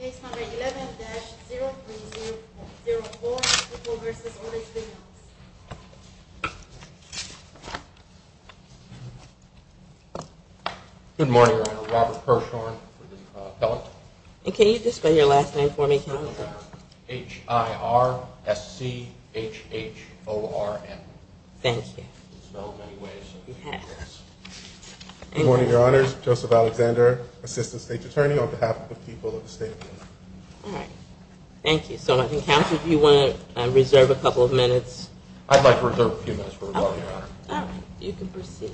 11-0304, People v. Orders. Good morning, Your Honor. Robert Kershawn with the appellate. And can you just spell your last name for me, please? H-I-R-S-C-H-H-O-R-N. Thank you. Good morning, Your Honors. Joseph Alexander, Assistant State's Attorney on behalf of the people of the state of Illinois. All right. Thank you. So I think, Counsel, if you want to reserve a couple of minutes. I'd like to reserve a few minutes for rebuttal, Your Honor. All right. You can proceed.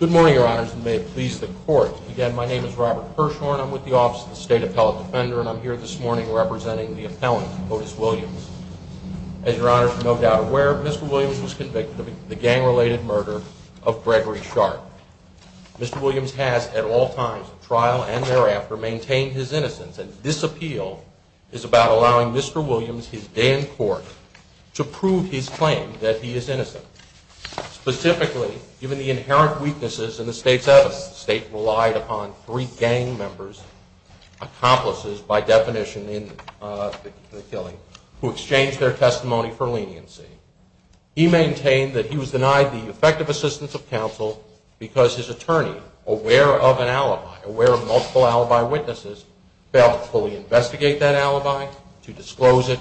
Good morning, Your Honors, and may it please the Court. Again, my name is Robert Kershawn. I'm with the Office of the State Appellate Defender, and I'm here this morning representing the appellant, Otis Williams. As Your Honors are no doubt aware, Mr. Williams was convicted of the gang-related murder of Gregory Sharp. Mr. Williams has, at all times of trial and thereafter, maintained his innocence, and this appeal is about allowing Mr. Williams his day in court to prove his claim that he is innocent. Specifically, given the inherent weaknesses in the state's evidence, the state relied upon three gang members, accomplices by definition in the killing, who exchanged their testimony for leniency. He maintained that he was denied the effective assistance of counsel because his attorney, aware of an alibi, aware of multiple alibi witnesses, failed to fully investigate that alibi, to disclose it,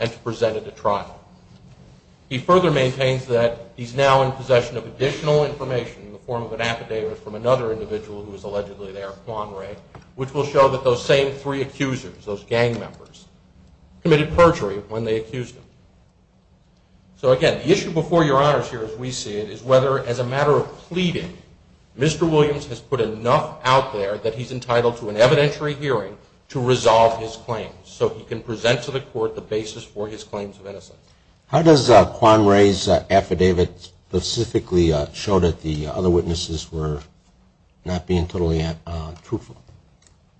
and to present it at trial. He further maintains that he's now in possession of additional information in the form of an affidavit from another individual who is allegedly there, Quan Ray, which will show that those same three accusers, those gang members, committed perjury when they accused him. So again, the issue before Your Honors here, as we see it, is whether, as a matter of pleading, Mr. Williams has put enough out there that he's entitled to an evidentiary hearing to resolve his claims, so he can present to the court the basis for his claims of innocence. How does Quan Ray's affidavit specifically show that the other witnesses were not being totally truthful?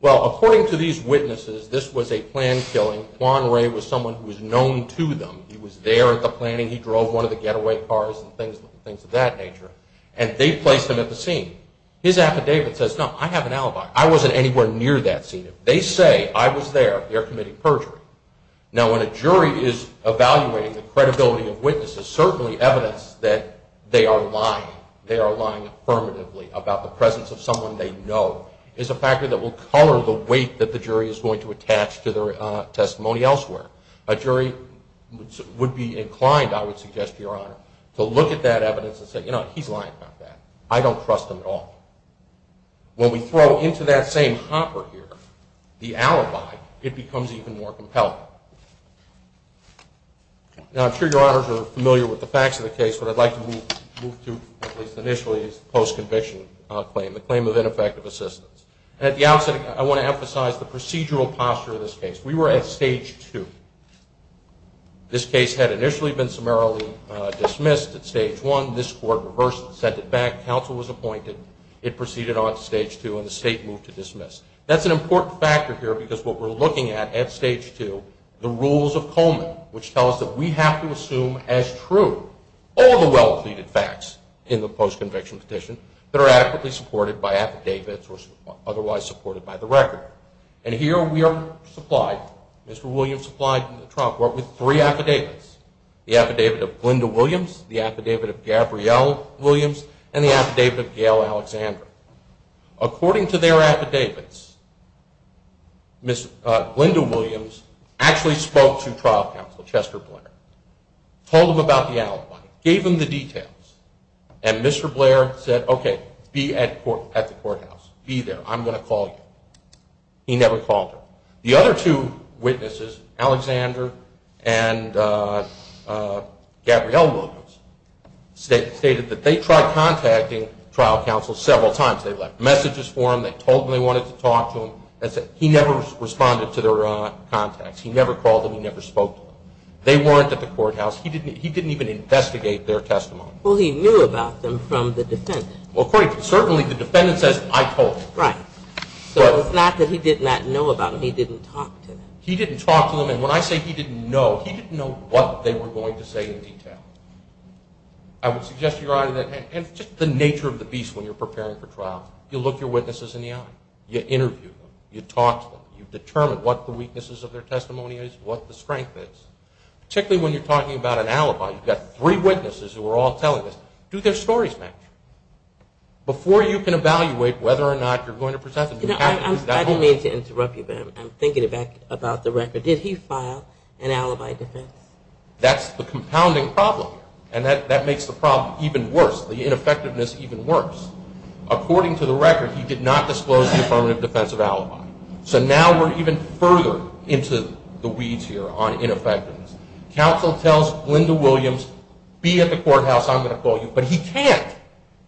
Well, according to these witnesses, this was a planned killing. Quan Ray was someone who was known to them. He was there at the planning. He drove one of the getaway cars and things of that nature, and they placed him at the scene. His affidavit says, no, I have an alibi. I wasn't anywhere near that scene. They say I was there. They're committing perjury. Now, when a jury is evaluating the credibility of witnesses, certainly evidence that they are lying, they are lying affirmatively about the presence of someone they know, is a factor that will color the weight that the jury is going to attach to their testimony elsewhere. A jury would be inclined, I would suggest to Your Honor, to look at that evidence and say, you know what, he's lying about that. I don't trust him at all. When we throw into that same hopper here the alibi, it becomes even more compelling. Now, I'm sure Your Honors are familiar with the facts of the case. What I'd like to move to, at least initially, is the post-conviction claim, the claim of ineffective assistance. At the outset, I want to emphasize the procedural posture of this case. We were at Stage 2. This case had initially been summarily dismissed at Stage 1. This court reversed it, sent it back. Counsel was appointed. It proceeded on to Stage 2, and the state moved to dismiss. That's an important factor here because what we're looking at at Stage 2, the rules of Coleman, which tells us that we have to assume as true all the well-pleaded facts in the post-conviction petition that are adequately supported by affidavits or otherwise supported by the record. And here we are supplied, Mr. Williams supplied Trump with three affidavits, the affidavit of Glinda Williams, the affidavit of Gabrielle Williams, and the affidavit of Gail Alexander. According to their affidavits, Glinda Williams actually spoke to trial counsel Chester Blair, told him about the alibi, gave him the details, and Mr. Blair said, okay, be at the courthouse, be there, I'm going to call you. He never called her. The other two witnesses, Alexander and Gabrielle Williams, stated that they tried contacting trial counsel several times. They left messages for him. They told him they wanted to talk to him. He never responded to their contacts. He never called them. He never spoke to them. They weren't at the courthouse. He didn't even investigate their testimony. Well, he knew about them from the defendant. Well, certainly the defendant says, I told him. Right. So it's not that he did not know about them. He didn't talk to them. He didn't talk to them, and when I say he didn't know, he didn't know what they were going to say in detail. I would suggest to your audience, and it's just the nature of the beast when you're preparing for trial. You look your witnesses in the eye. You interview them. You talk to them. You determine what the weaknesses of their testimony is, what the strength is. Particularly when you're talking about an alibi. You've got three witnesses who are all telling this. Do their stories match? Before you can evaluate whether or not you're going to present them. I don't mean to interrupt you, but I'm thinking about the record. Did he file an alibi defense? That's the compounding problem, and that makes the problem even worse, the ineffectiveness even worse. According to the record, he did not disclose the affirmative defense of alibi. So now we're even further into the weeds here on ineffectiveness. Counsel tells Linda Williams, be at the courthouse, I'm going to call you. But he can't.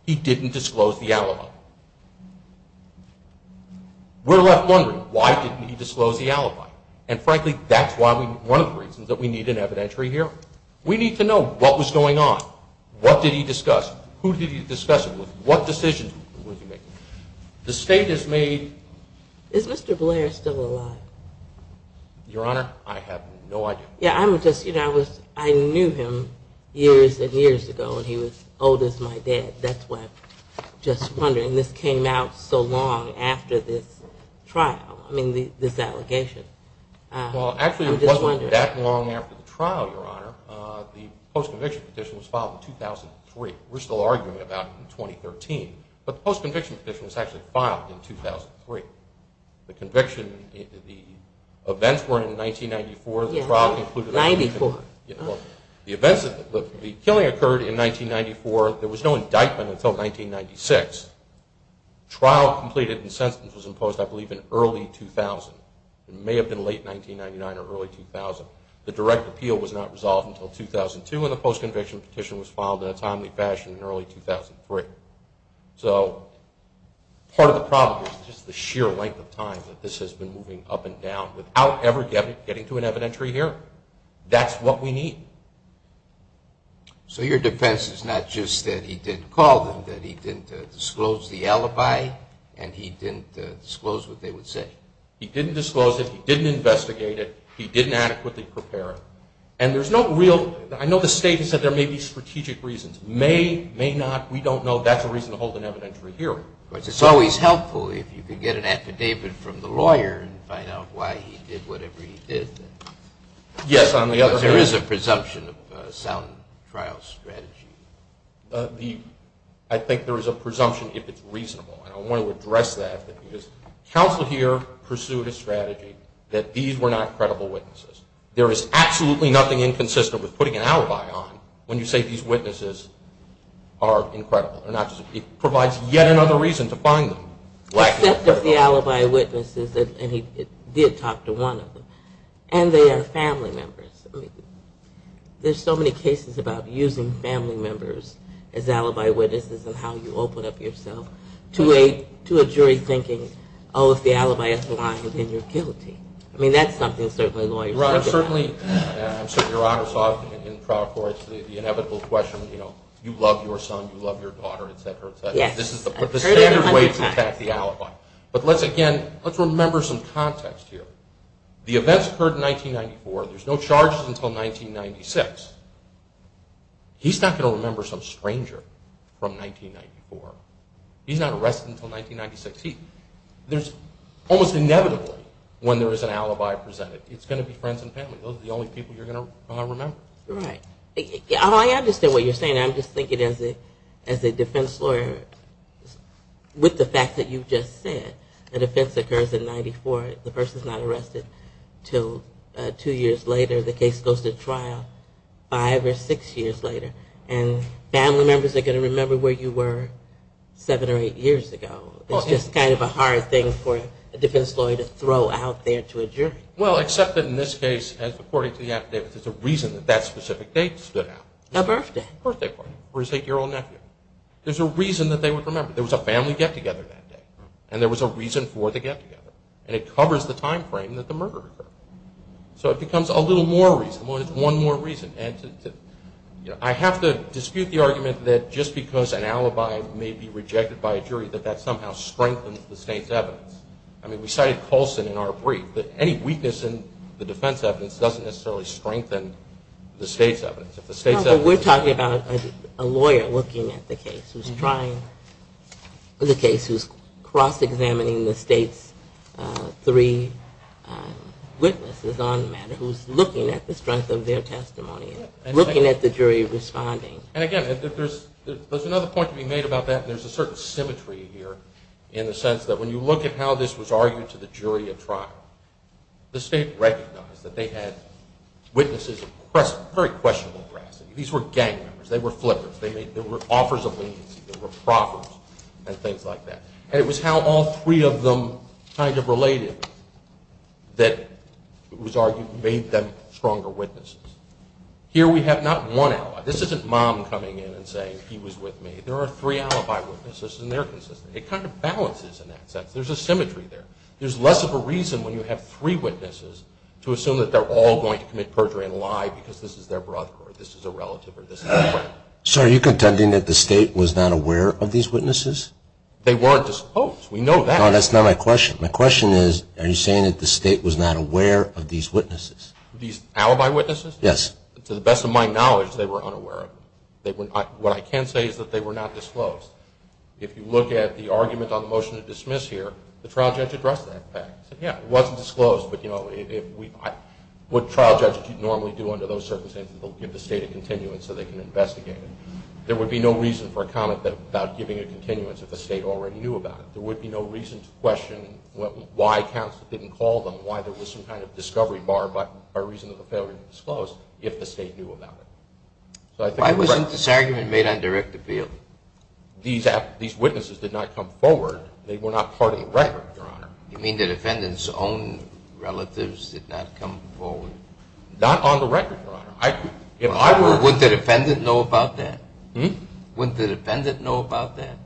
He didn't disclose the alibi. We're left wondering, why didn't he disclose the alibi? And, frankly, that's one of the reasons that we need an evidentiary here. We need to know what was going on. What did he discuss? Who did he discuss it with? What decisions was he making? The state has made. Is Mr. Blair still alive? Your Honor, I have no idea. I knew him years and years ago, and he was old as my dad. That's why I'm just wondering. This came out so long after this trial, I mean, this allegation. Well, actually, it wasn't that long after the trial, Your Honor. The post-conviction petition was filed in 2003. We're still arguing about it in 2013. But the post-conviction petition was actually filed in 2003. The conviction, the events were in 1994. The trial concluded in 1994. The killing occurred in 1994. There was no indictment until 1996. Trial completed and sentence was imposed, I believe, in early 2000. It may have been late 1999 or early 2000. The direct appeal was not resolved until 2002, and the post-conviction petition was filed in a timely fashion in early 2003. So part of the problem is just the sheer length of time that this has been moving up and down without ever getting to an evidentiary hearing. That's what we need. So your defense is not just that he didn't call them, that he didn't disclose the alibi, and he didn't disclose what they would say? He didn't disclose it. He didn't investigate it. He didn't adequately prepare it. And there's no real – I know the State has said there may be strategic reasons. May, may not. We don't know. That's a reason to hold an evidentiary hearing. It's always helpful if you can get an affidavit from the lawyer and find out why he did whatever he did. Yes. There is a presumption of sound trial strategy. I think there is a presumption if it's reasonable, and I want to address that because counsel here pursued a strategy that these were not credible witnesses. There is absolutely nothing inconsistent with putting an alibi on when you say these witnesses are incredible. It provides yet another reason to find them. Except if the alibi witness is, and he did talk to one of them, and they are family members. There's so many cases about using family members as alibi witnesses and how you open up yourself to a jury thinking, oh, if the alibi is lying, then you're guilty. I mean, that's something certainly lawyers look at. Your Honor, certainly in trial court, the inevitable question, you know, you love your son, you love your daughter, et cetera, et cetera. This is the standard way to attack the alibi. But, again, let's remember some context here. The events occurred in 1994. There's no charges until 1996. He's not going to remember some stranger from 1994. He's not arrested until 1996. Almost inevitably, when there is an alibi presented, it's going to be friends and family. Those are the only people you're going to remember. Right. I understand what you're saying. I'm just thinking as a defense lawyer, with the fact that you just said, an offense occurs in 1994. The person's not arrested until two years later. The case goes to trial five or six years later, and family members are going to remember where you were seven or eight years ago. Well, except that in this case, according to the affidavits, there's a reason that that specific date stood out. A birthday. A birthday party for his eight-year-old nephew. There's a reason that they would remember. There was a family get-together that day, and there was a reason for the get-together. And it covers the time frame that the murder occurred. So it becomes a little more reasonable, and it's one more reason. I have to dispute the argument that just because an alibi may be rejected by a jury, that that somehow strengthens the state's evidence. I mean, we cited Colson in our brief, that any weakness in the defense evidence doesn't necessarily strengthen the state's evidence. If the state's evidence is strong. But we're talking about a lawyer looking at the case, who's cross-examining the state's three witnesses on the matter, who's looking at the strength of their testimony, looking at the jury responding. And, again, there's another point to be made about that, and there's a certain symmetry here in the sense that when you look at how this was argued to the jury at trial, the state recognized that they had witnesses of very questionable veracity. These were gang members. They were flippers. They were offers of leniency. They were proffers and things like that. And it was how all three of them kind of related that made them stronger witnesses. Here we have not one alibi. This isn't Mom coming in and saying, he was with me. There are three alibi witnesses, and they're consistent. It kind of balances in that sense. There's a symmetry there. There's less of a reason when you have three witnesses to assume that they're all going to commit perjury and lie because this is their brother, or this is a relative, or this is a friend. So are you contending that the state was not aware of these witnesses? They weren't disposed. We know that. No, that's not my question. My question is, are you saying that the state was not aware of these witnesses? These alibi witnesses? Yes. To the best of my knowledge, they were unaware of them. What I can say is that they were not disclosed. If you look at the argument on the motion to dismiss here, the trial judge addressed that fact. He said, yeah, it wasn't disclosed, but what trial judges normally do under those circumstances, they'll give the state a continuance so they can investigate it. There would be no reason for a comment about giving a continuance if the state already knew about it. There would be no reason to question why counsel didn't call them, why there was some kind of discovery bar by reason of the failure to disclose if the state knew about it. Why wasn't this argument made on direct appeal? These witnesses did not come forward. They were not part of the record, Your Honor. You mean the defendant's own relatives did not come forward? Not on the record, Your Honor. If I were, wouldn't the defendant know about that? Wouldn't the defendant know about that?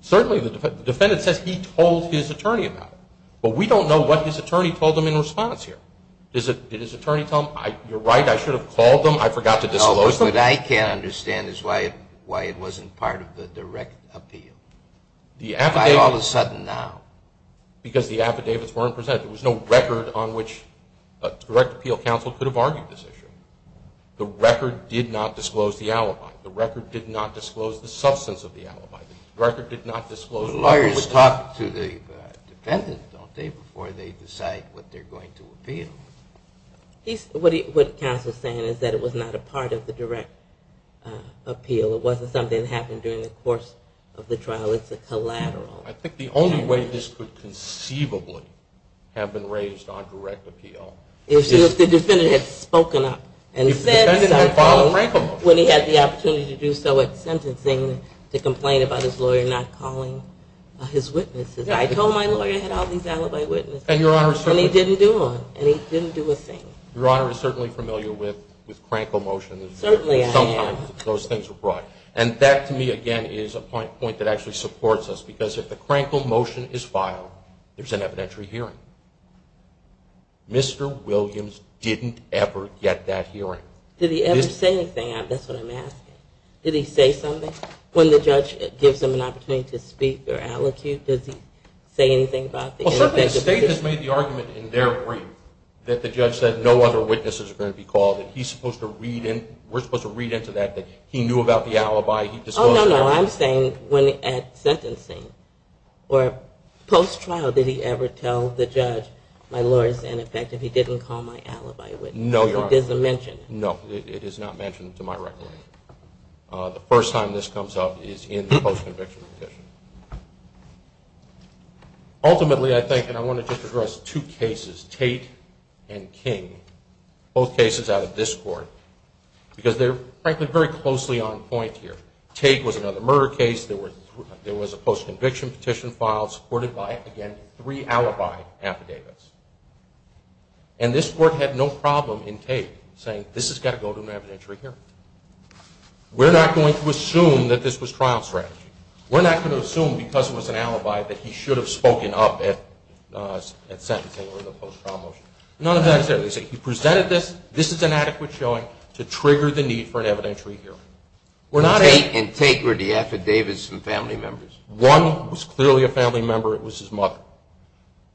Certainly the defendant says he told his attorney about it, but we don't know what his attorney told him in response here. Did his attorney tell him, you're right, I should have called them, I forgot to disclose them? What I can't understand is why it wasn't part of the direct appeal. Why all of a sudden now? Because the affidavits weren't presented. There was no record on which a direct appeal counsel could have argued this issue. The record did not disclose the alibi. The record did not disclose the substance of the alibi. The record did not disclose... Lawyers talk to the defendant, don't they, before they decide what they're going to appeal. What counsel's saying is that it was not a part of the direct appeal. It wasn't something that happened during the course of the trial. It's a collateral. I think the only way this could conceivably have been raised on direct appeal... Is if the defendant had spoken up and said something when he had the opportunity to do so at sentencing to complain about his lawyer not calling his witnesses. I told my lawyer I had all these alibi witnesses. And your Honor... And he didn't do one. And he didn't do a thing. Your Honor is certainly familiar with crankle motions. Certainly I am. Sometimes those things are brought. And that to me, again, is a point that actually supports us because if the crankle motion is filed, there's an evidentiary hearing. Mr. Williams didn't ever get that hearing. Did he ever say anything? That's what I'm asking. Did he say something? When the judge gives him an opportunity to speak or allocute, does he say anything about the ineffectiveness? The state has made the argument in their brief that the judge said no other witnesses are going to be called. We're supposed to read into that that he knew about the alibi. Oh, no, no. I'm saying at sentencing or post-trial, did he ever tell the judge, my lawyer is ineffective, he didn't call my alibi witness. No, Your Honor. It isn't mentioned. No, it is not mentioned to my record. The first time this comes up is in the post-conviction petition. Ultimately, I think, and I want to just address two cases, Tate and King, both cases out of this court because they're, frankly, very closely on point here. Tate was another murder case. There was a post-conviction petition filed supported by, again, three alibi affidavits. And this court had no problem in Tate saying this has got to go to an evidentiary hearing. We're not going to assume that this was trial strategy. We're not going to assume because it was an alibi that he should have spoken up at sentencing or the post-trial motion. None of that is there. They say he presented this, this is an adequate showing to trigger the need for an evidentiary hearing. Tate and Tate were the affidavits from family members. One was clearly a family member. It was his mother.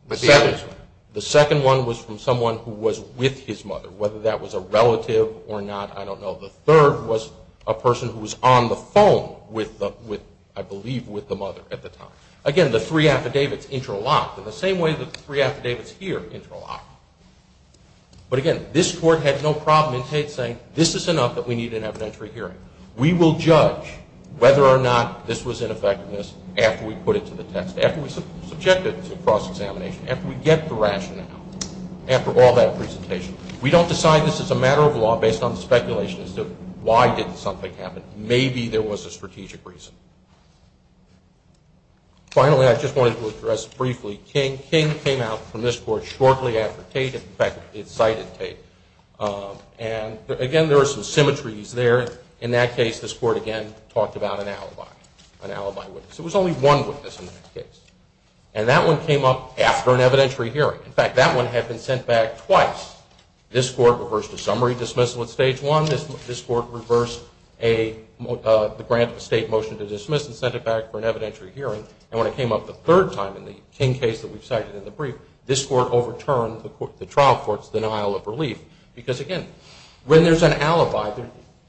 The second one was from someone who was with his mother, whether that was a relative or not, I don't know. The third was a person who was on the phone with, I believe, with the mother at the time. Again, the three affidavits interlocked in the same way that the three affidavits here interlocked. But again, this court had no problem in Tate saying this is enough that we need an evidentiary hearing. We will judge whether or not this was an effectiveness after we put it to the test, after we subject it to cross-examination, after we get the rationale, after all that presentation. We don't decide this is a matter of law based on speculation as to why did something happen. Maybe there was a strategic reason. Finally, I just wanted to address briefly King. King came out from this court shortly after Tate. In fact, it cited Tate. And again, there are some symmetries there. In that case, this court again talked about an alibi, an alibi witness. There was only one witness in that case. And that one came up after an evidentiary hearing. In fact, that one had been sent back twice. This court reversed a summary dismissal at stage one. This court reversed the grant of a state motion to dismiss and sent it back for an evidentiary hearing. And when it came up the third time in the King case that we've cited in the brief, this court overturned the trial court's denial of relief. Because again, when there's an alibi,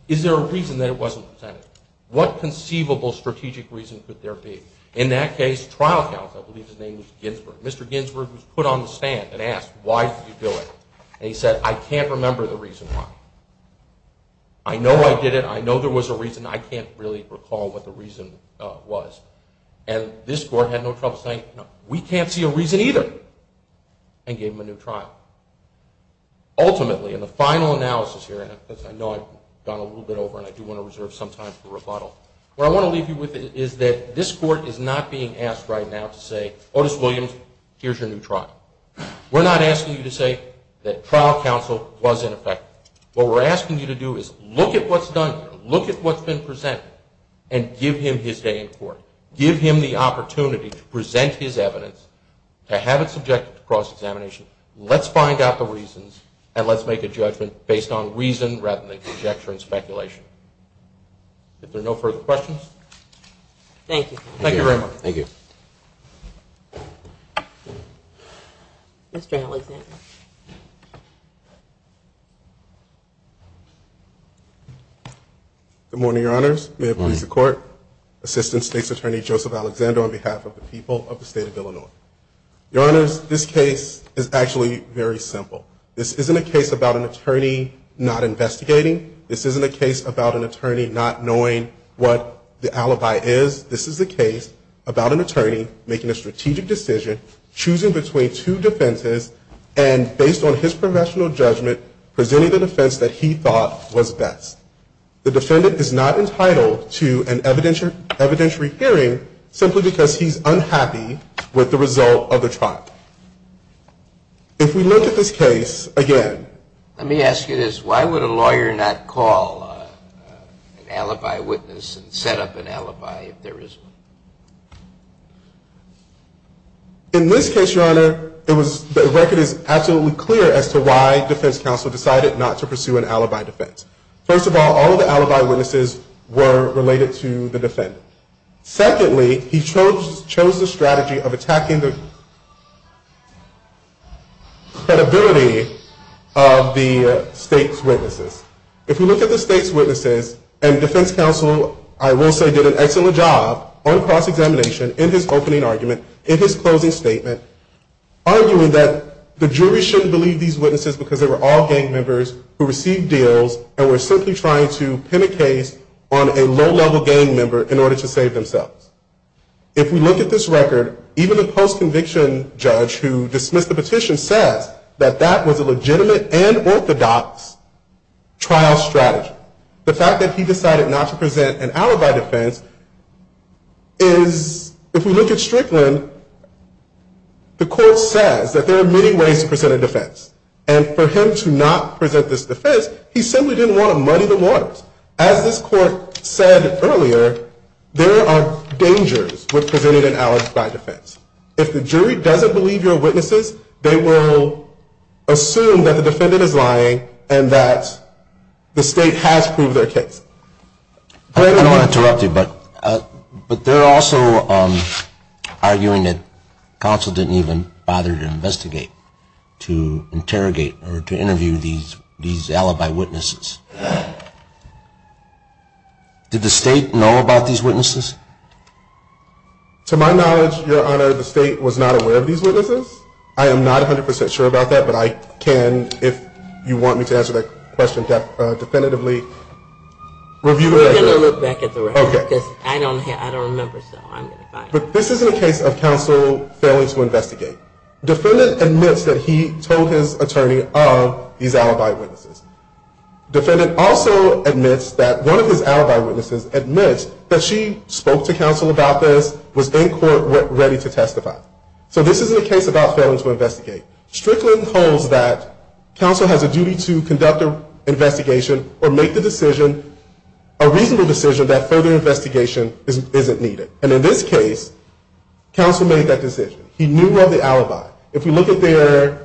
is there a reason that it wasn't presented? What conceivable strategic reason could there be? In that case, trial counsel, I believe his name was Ginsberg, Mr. Ginsberg was put on the stand and asked, why did you do it? And he said, I can't remember the reason why. I know I did it. I know there was a reason. I can't really recall what the reason was. And this court had no trouble saying, we can't see a reason either and gave him a new trial. Ultimately, in the final analysis here, and I know I've gone a little bit over and I do want to reserve some time for rebuttal, what I want to leave you with is that this court is not being asked right now to say, Otis Williams, here's your new trial. We're not asking you to say that trial counsel was ineffective. What we're asking you to do is look at what's done here, look at what's been presented, and give him his day in court. Give him the opportunity to present his evidence, to have it subjected to cross-examination. Let's find out the reasons, and let's make a judgment based on reason rather than conjecture and speculation. If there are no further questions. Thank you. Thank you very much. Thank you. Mr. Alexander. Good morning, Your Honors. May it please the Court. Assistant State's Attorney Joseph Alexander on behalf of the people of the State of Illinois. Your Honors, this case is actually very simple. This isn't a case about an attorney not investigating. This isn't a case about an attorney not knowing what the alibi is. This is a case about an attorney making a strategic decision, choosing between two defenses, and based on his professional judgment, presenting the defense that he thought was best. The defendant is not entitled to an evidentiary hearing simply because he's unhappy with the result of the trial. If we look at this case again. Let me ask you this. Why would a lawyer not call an alibi witness and set up an alibi if there is one? In this case, Your Honor, the record is absolutely clear as to why defense counsel decided not to pursue an alibi defense. First of all, all of the alibi witnesses were related to the defendant. Secondly, he chose the strategy of attacking the credibility of the State's witnesses. If we look at the State's witnesses, and defense counsel, I will say, did an excellent job on cross-examination in his opening argument, in his closing statement, arguing that the jury shouldn't believe these witnesses because they were all gang members who received deals and were simply trying to pin a case on a low-level gang member in order to save themselves. If we look at this record, even the post-conviction judge who dismissed the petition says that that was a legitimate and orthodox trial strategy. The fact that he decided not to present an alibi defense is, if we look at Strickland, the court says that there are many ways to present a defense. And for him to not present this defense, he simply didn't want to money the lawyers. As this court said earlier, there are dangers with presenting an alibi defense. If the jury doesn't believe your witnesses, they will assume that the defendant is lying and that the State has proved their case. I don't want to interrupt you, but they're also arguing that counsel didn't even bother to investigate, to interrogate, or to interview these alibi witnesses. Did the State know about these witnesses? To my knowledge, Your Honor, the State was not aware of these witnesses. I am not 100% sure about that, but I can, if you want me to answer that question definitively, review the record. We're going to look back at the record because I don't remember, so I'm going to find out. Defendant admits that he told his attorney of these alibi witnesses. Defendant also admits that one of his alibi witnesses admits that she spoke to counsel about this, was in court ready to testify. So this isn't a case about failing to investigate. Strickland holds that counsel has a duty to conduct an investigation or make the decision, a reasonable decision, that further investigation isn't needed. And in this case, counsel made that decision. He knew of the alibi. If you look at their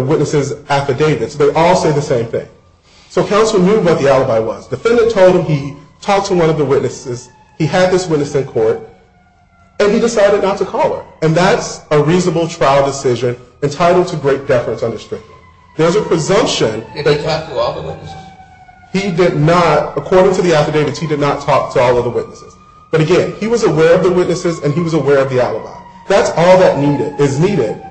witnesses' affidavits, they all say the same thing. So counsel knew what the alibi was. Defendant told him he talked to one of the witnesses, he had this witness in court, and he decided not to call her. And that's a reasonable trial decision entitled to great deference under Strickland. There's a presumption that he did not, according to the affidavits, he did not talk to all of the witnesses. But again, he was aware of the witnesses and he was aware of the alibi. That's all that is needed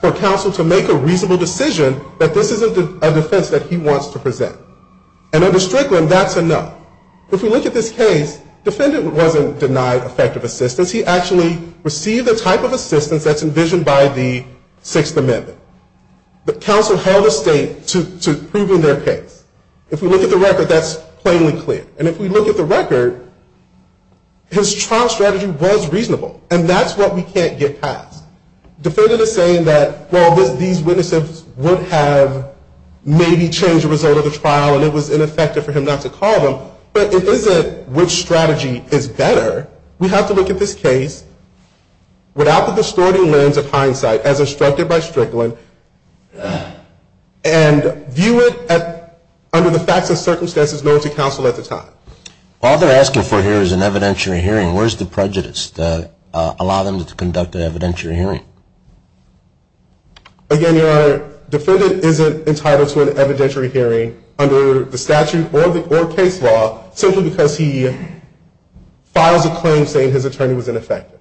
for counsel to make a reasonable decision that this is a defense that he wants to present. And under Strickland, that's a no. If we look at this case, defendant wasn't denied effective assistance. He actually received the type of assistance that's envisioned by the Sixth Amendment. But counsel held a statement to prove in their case. If we look at the record, that's plainly clear. And if we look at the record, his trial strategy was reasonable. And that's what we can't get past. Defendant is saying that, well, these witnesses would have maybe changed the result of the trial and it was ineffective for him not to call them. But it isn't which strategy is better. We have to look at this case without the distorting lens of hindsight as instructed by Strickland and view it under the facts and circumstances known to counsel at the time. All they're asking for here is an evidentiary hearing. Where's the prejudice to allow them to conduct an evidentiary hearing? Again, Your Honor, defendant isn't entitled to an evidentiary hearing under the statute or case law simply because he files a claim saying his attorney was ineffective.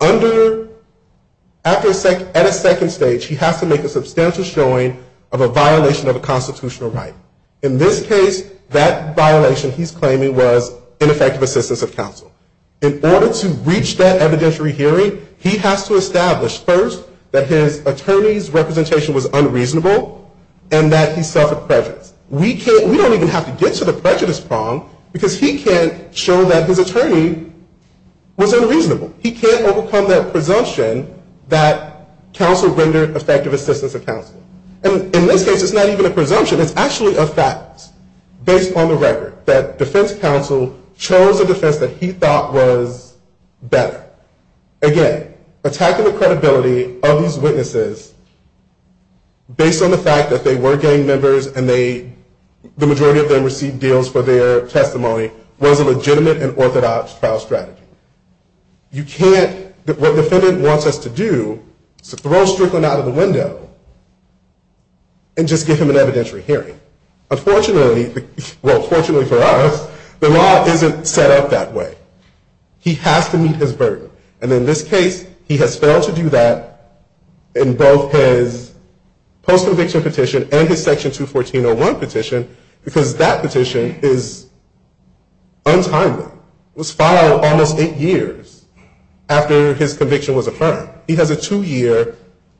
At a second stage, he has to make a substantial showing of a violation of a constitutional right. In this case, that violation he's claiming was ineffective assistance of counsel. In order to reach that evidentiary hearing, he has to establish first that his attorney's representation was unreasonable and that he suffered prejudice. We don't even have to get to the prejudice prong because he can show that his attorney was unreasonable. He can't overcome that presumption that counsel rendered effective assistance of counsel. And in this case, it's not even a presumption. It's actually a fact based on the record that defense counsel chose a defense that he thought was better. Again, attacking the credibility of these witnesses based on the fact that they were gang members and the majority of them received deals for their testimony was a legitimate and orthodox trial strategy. You can't, what defendant wants us to do is to throw Strickland out of the window and just give him an evidentiary hearing. Unfortunately, well fortunately for us, the law isn't set up that way. He has to meet his burden. And in this case, he has failed to do that in both his post-conviction petition and his section 214.01 petition because that petition is untimely. It was filed almost eight years after his conviction was affirmed. He has a two-year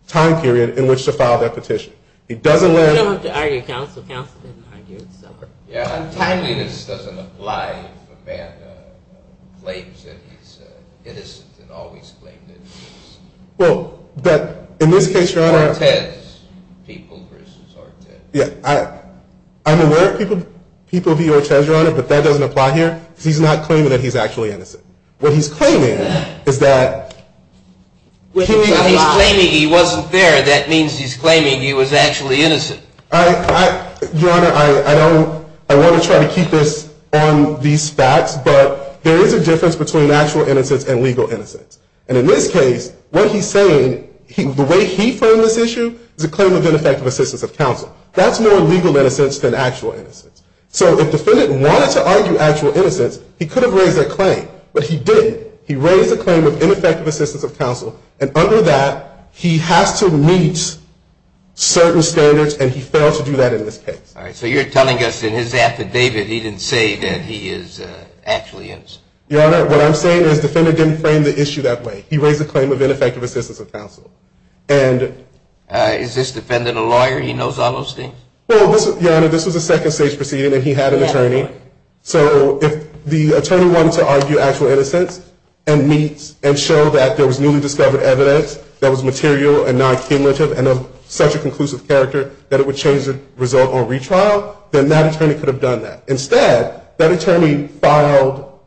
time period in which to file that petition. He doesn't let... You don't have to argue counsel. Counsel didn't argue it, so... Yeah, untimeliness doesn't apply if a man claims that he's innocent and always claimed innocence. Well, but in this case, Your Honor... Ortez people versus Ortez people. Yeah, I'm aware of people being Ortez, Your Honor, but that doesn't apply here because he's not claiming that he's actually innocent. What he's claiming is that... He's claiming he wasn't there. That means he's claiming he was actually innocent. Your Honor, I want to try to keep this on these facts, but there is a difference between actual innocence and legal innocence. And in this case, what he's saying, the way he framed this issue, is a claim of ineffective assistance of counsel. That's more legal innocence than actual innocence. So if the defendant wanted to argue actual innocence, he could have raised that claim, but he didn't. He raised a claim of ineffective assistance of counsel, and under that he has to meet certain standards, and he failed to do that in this case. All right, so you're telling us in his affidavit he didn't say that he is actually innocent. Your Honor, what I'm saying is the defendant didn't frame the issue that way. He raised a claim of ineffective assistance of counsel. And... Is this defendant a lawyer? He knows all those things? Well, Your Honor, this was a second stage proceeding, and he had an attorney. So if the attorney wanted to argue actual innocence and meet and show that there was newly discovered evidence that was material and non-cumulative and of such a conclusive character that it would change the result on retrial, then that attorney could have done that. Instead, that attorney filed,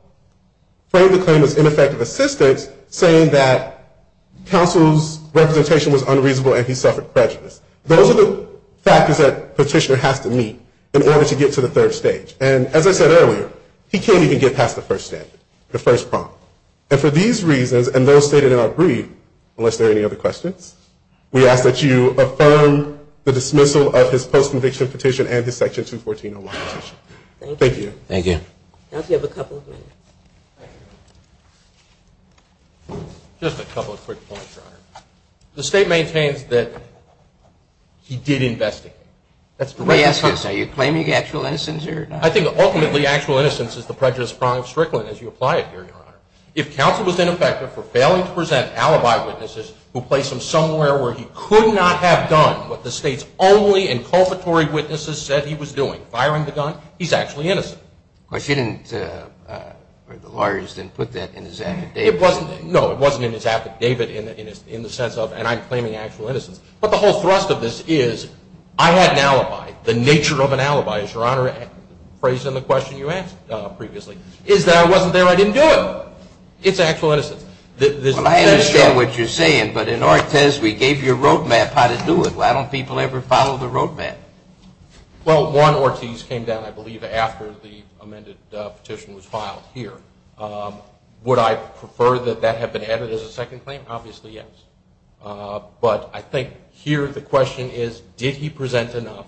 framed the claim as ineffective assistance, saying that counsel's representation was unreasonable and he suffered prejudice. Those are the factors that Petitioner has to meet in order to get to the third stage. And as I said earlier, he can't even get past the first standard, the first prompt. And for these reasons and those stated in our brief, unless there are any other questions, we ask that you affirm the dismissal of his post-conviction petition and his Section 214-01 petition. Thank you. Thank you. Counsel, you have a couple of minutes. Just a couple of quick points, Your Honor. The State maintains that he did investigate. May I ask, are you claiming actual innocence here or not? I think ultimately actual innocence is the prejudiced crime of Strickland, as you apply it here, Your Honor. If counsel was ineffective for failing to present alibi witnesses who placed him somewhere where he could not have done what the State's only inculpatory witnesses said he was doing, firing the gun, he's actually innocent. Of course, you didn't, or the lawyers didn't put that in his affidavit. No, it wasn't in his affidavit in the sense of, and I'm claiming actual innocence. But the whole thrust of this is I had an alibi. The nature of an alibi, as Your Honor phrased in the question you asked previously, is that I wasn't there, I didn't do it. It's actual innocence. I understand what you're saying, but in our test we gave you a road map how to do it. Why don't people ever follow the road map? Well, one Ortiz came down, I believe, after the amended petition was filed here. Would I prefer that that have been added as a second claim? Obviously, yes. But I think here the question is, did he present enough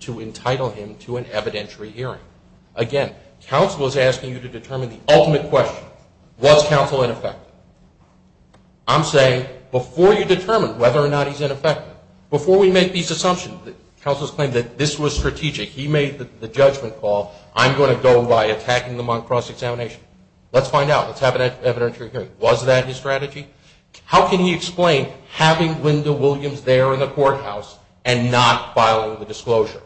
to entitle him to an evidentiary hearing? Again, counsel is asking you to determine the ultimate question. Was counsel ineffective? I'm saying before you determine whether or not he's ineffective, before we make these assumptions, counsel's claim that this was strategic, he made the judgment call, I'm going to go by attacking them on cross-examination. Let's find out. Let's have an evidentiary hearing. Was that his strategy? How can he explain having Linda Williams there in the courthouse and not filing the disclosure?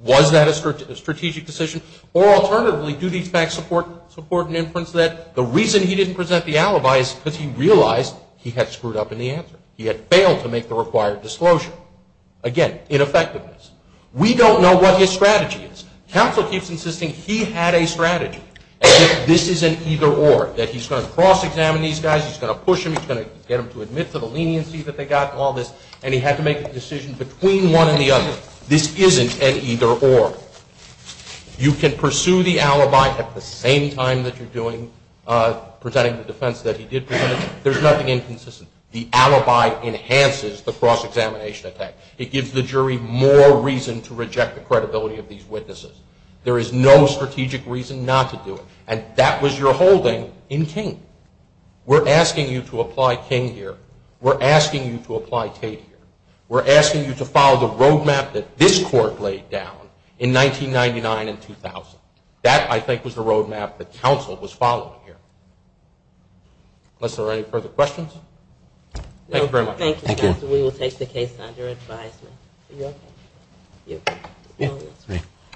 Was that a strategic decision? Or alternatively, do these facts support an inference that the reason he didn't present the alibi is because he realized he had screwed up in the answer. He had failed to make the required disclosure. Again, ineffectiveness. We don't know what his strategy is. Counsel keeps insisting he had a strategy, as if this is an either-or, that he's going to cross-examine these guys, he's going to push them, he's going to get them to admit to the leniency that they got and all this, and he had to make a decision between one and the other. This isn't an either-or. You can pursue the alibi at the same time that you're presenting the defense that he did present it. There's nothing inconsistent. The alibi enhances the cross-examination attack. It gives the jury more reason to reject the credibility of these witnesses. There is no strategic reason not to do it. And that was your holding in King. We're asking you to apply King here. We're asking you to apply Tate here. We're asking you to follow the road map that this court laid down in 1999 and 2000. That, I think, was the road map that counsel was following here. Unless there are any further questions. Thank you very much. Thank you, counsel. We will take the case under advisement. Are you okay? Yeah. All right.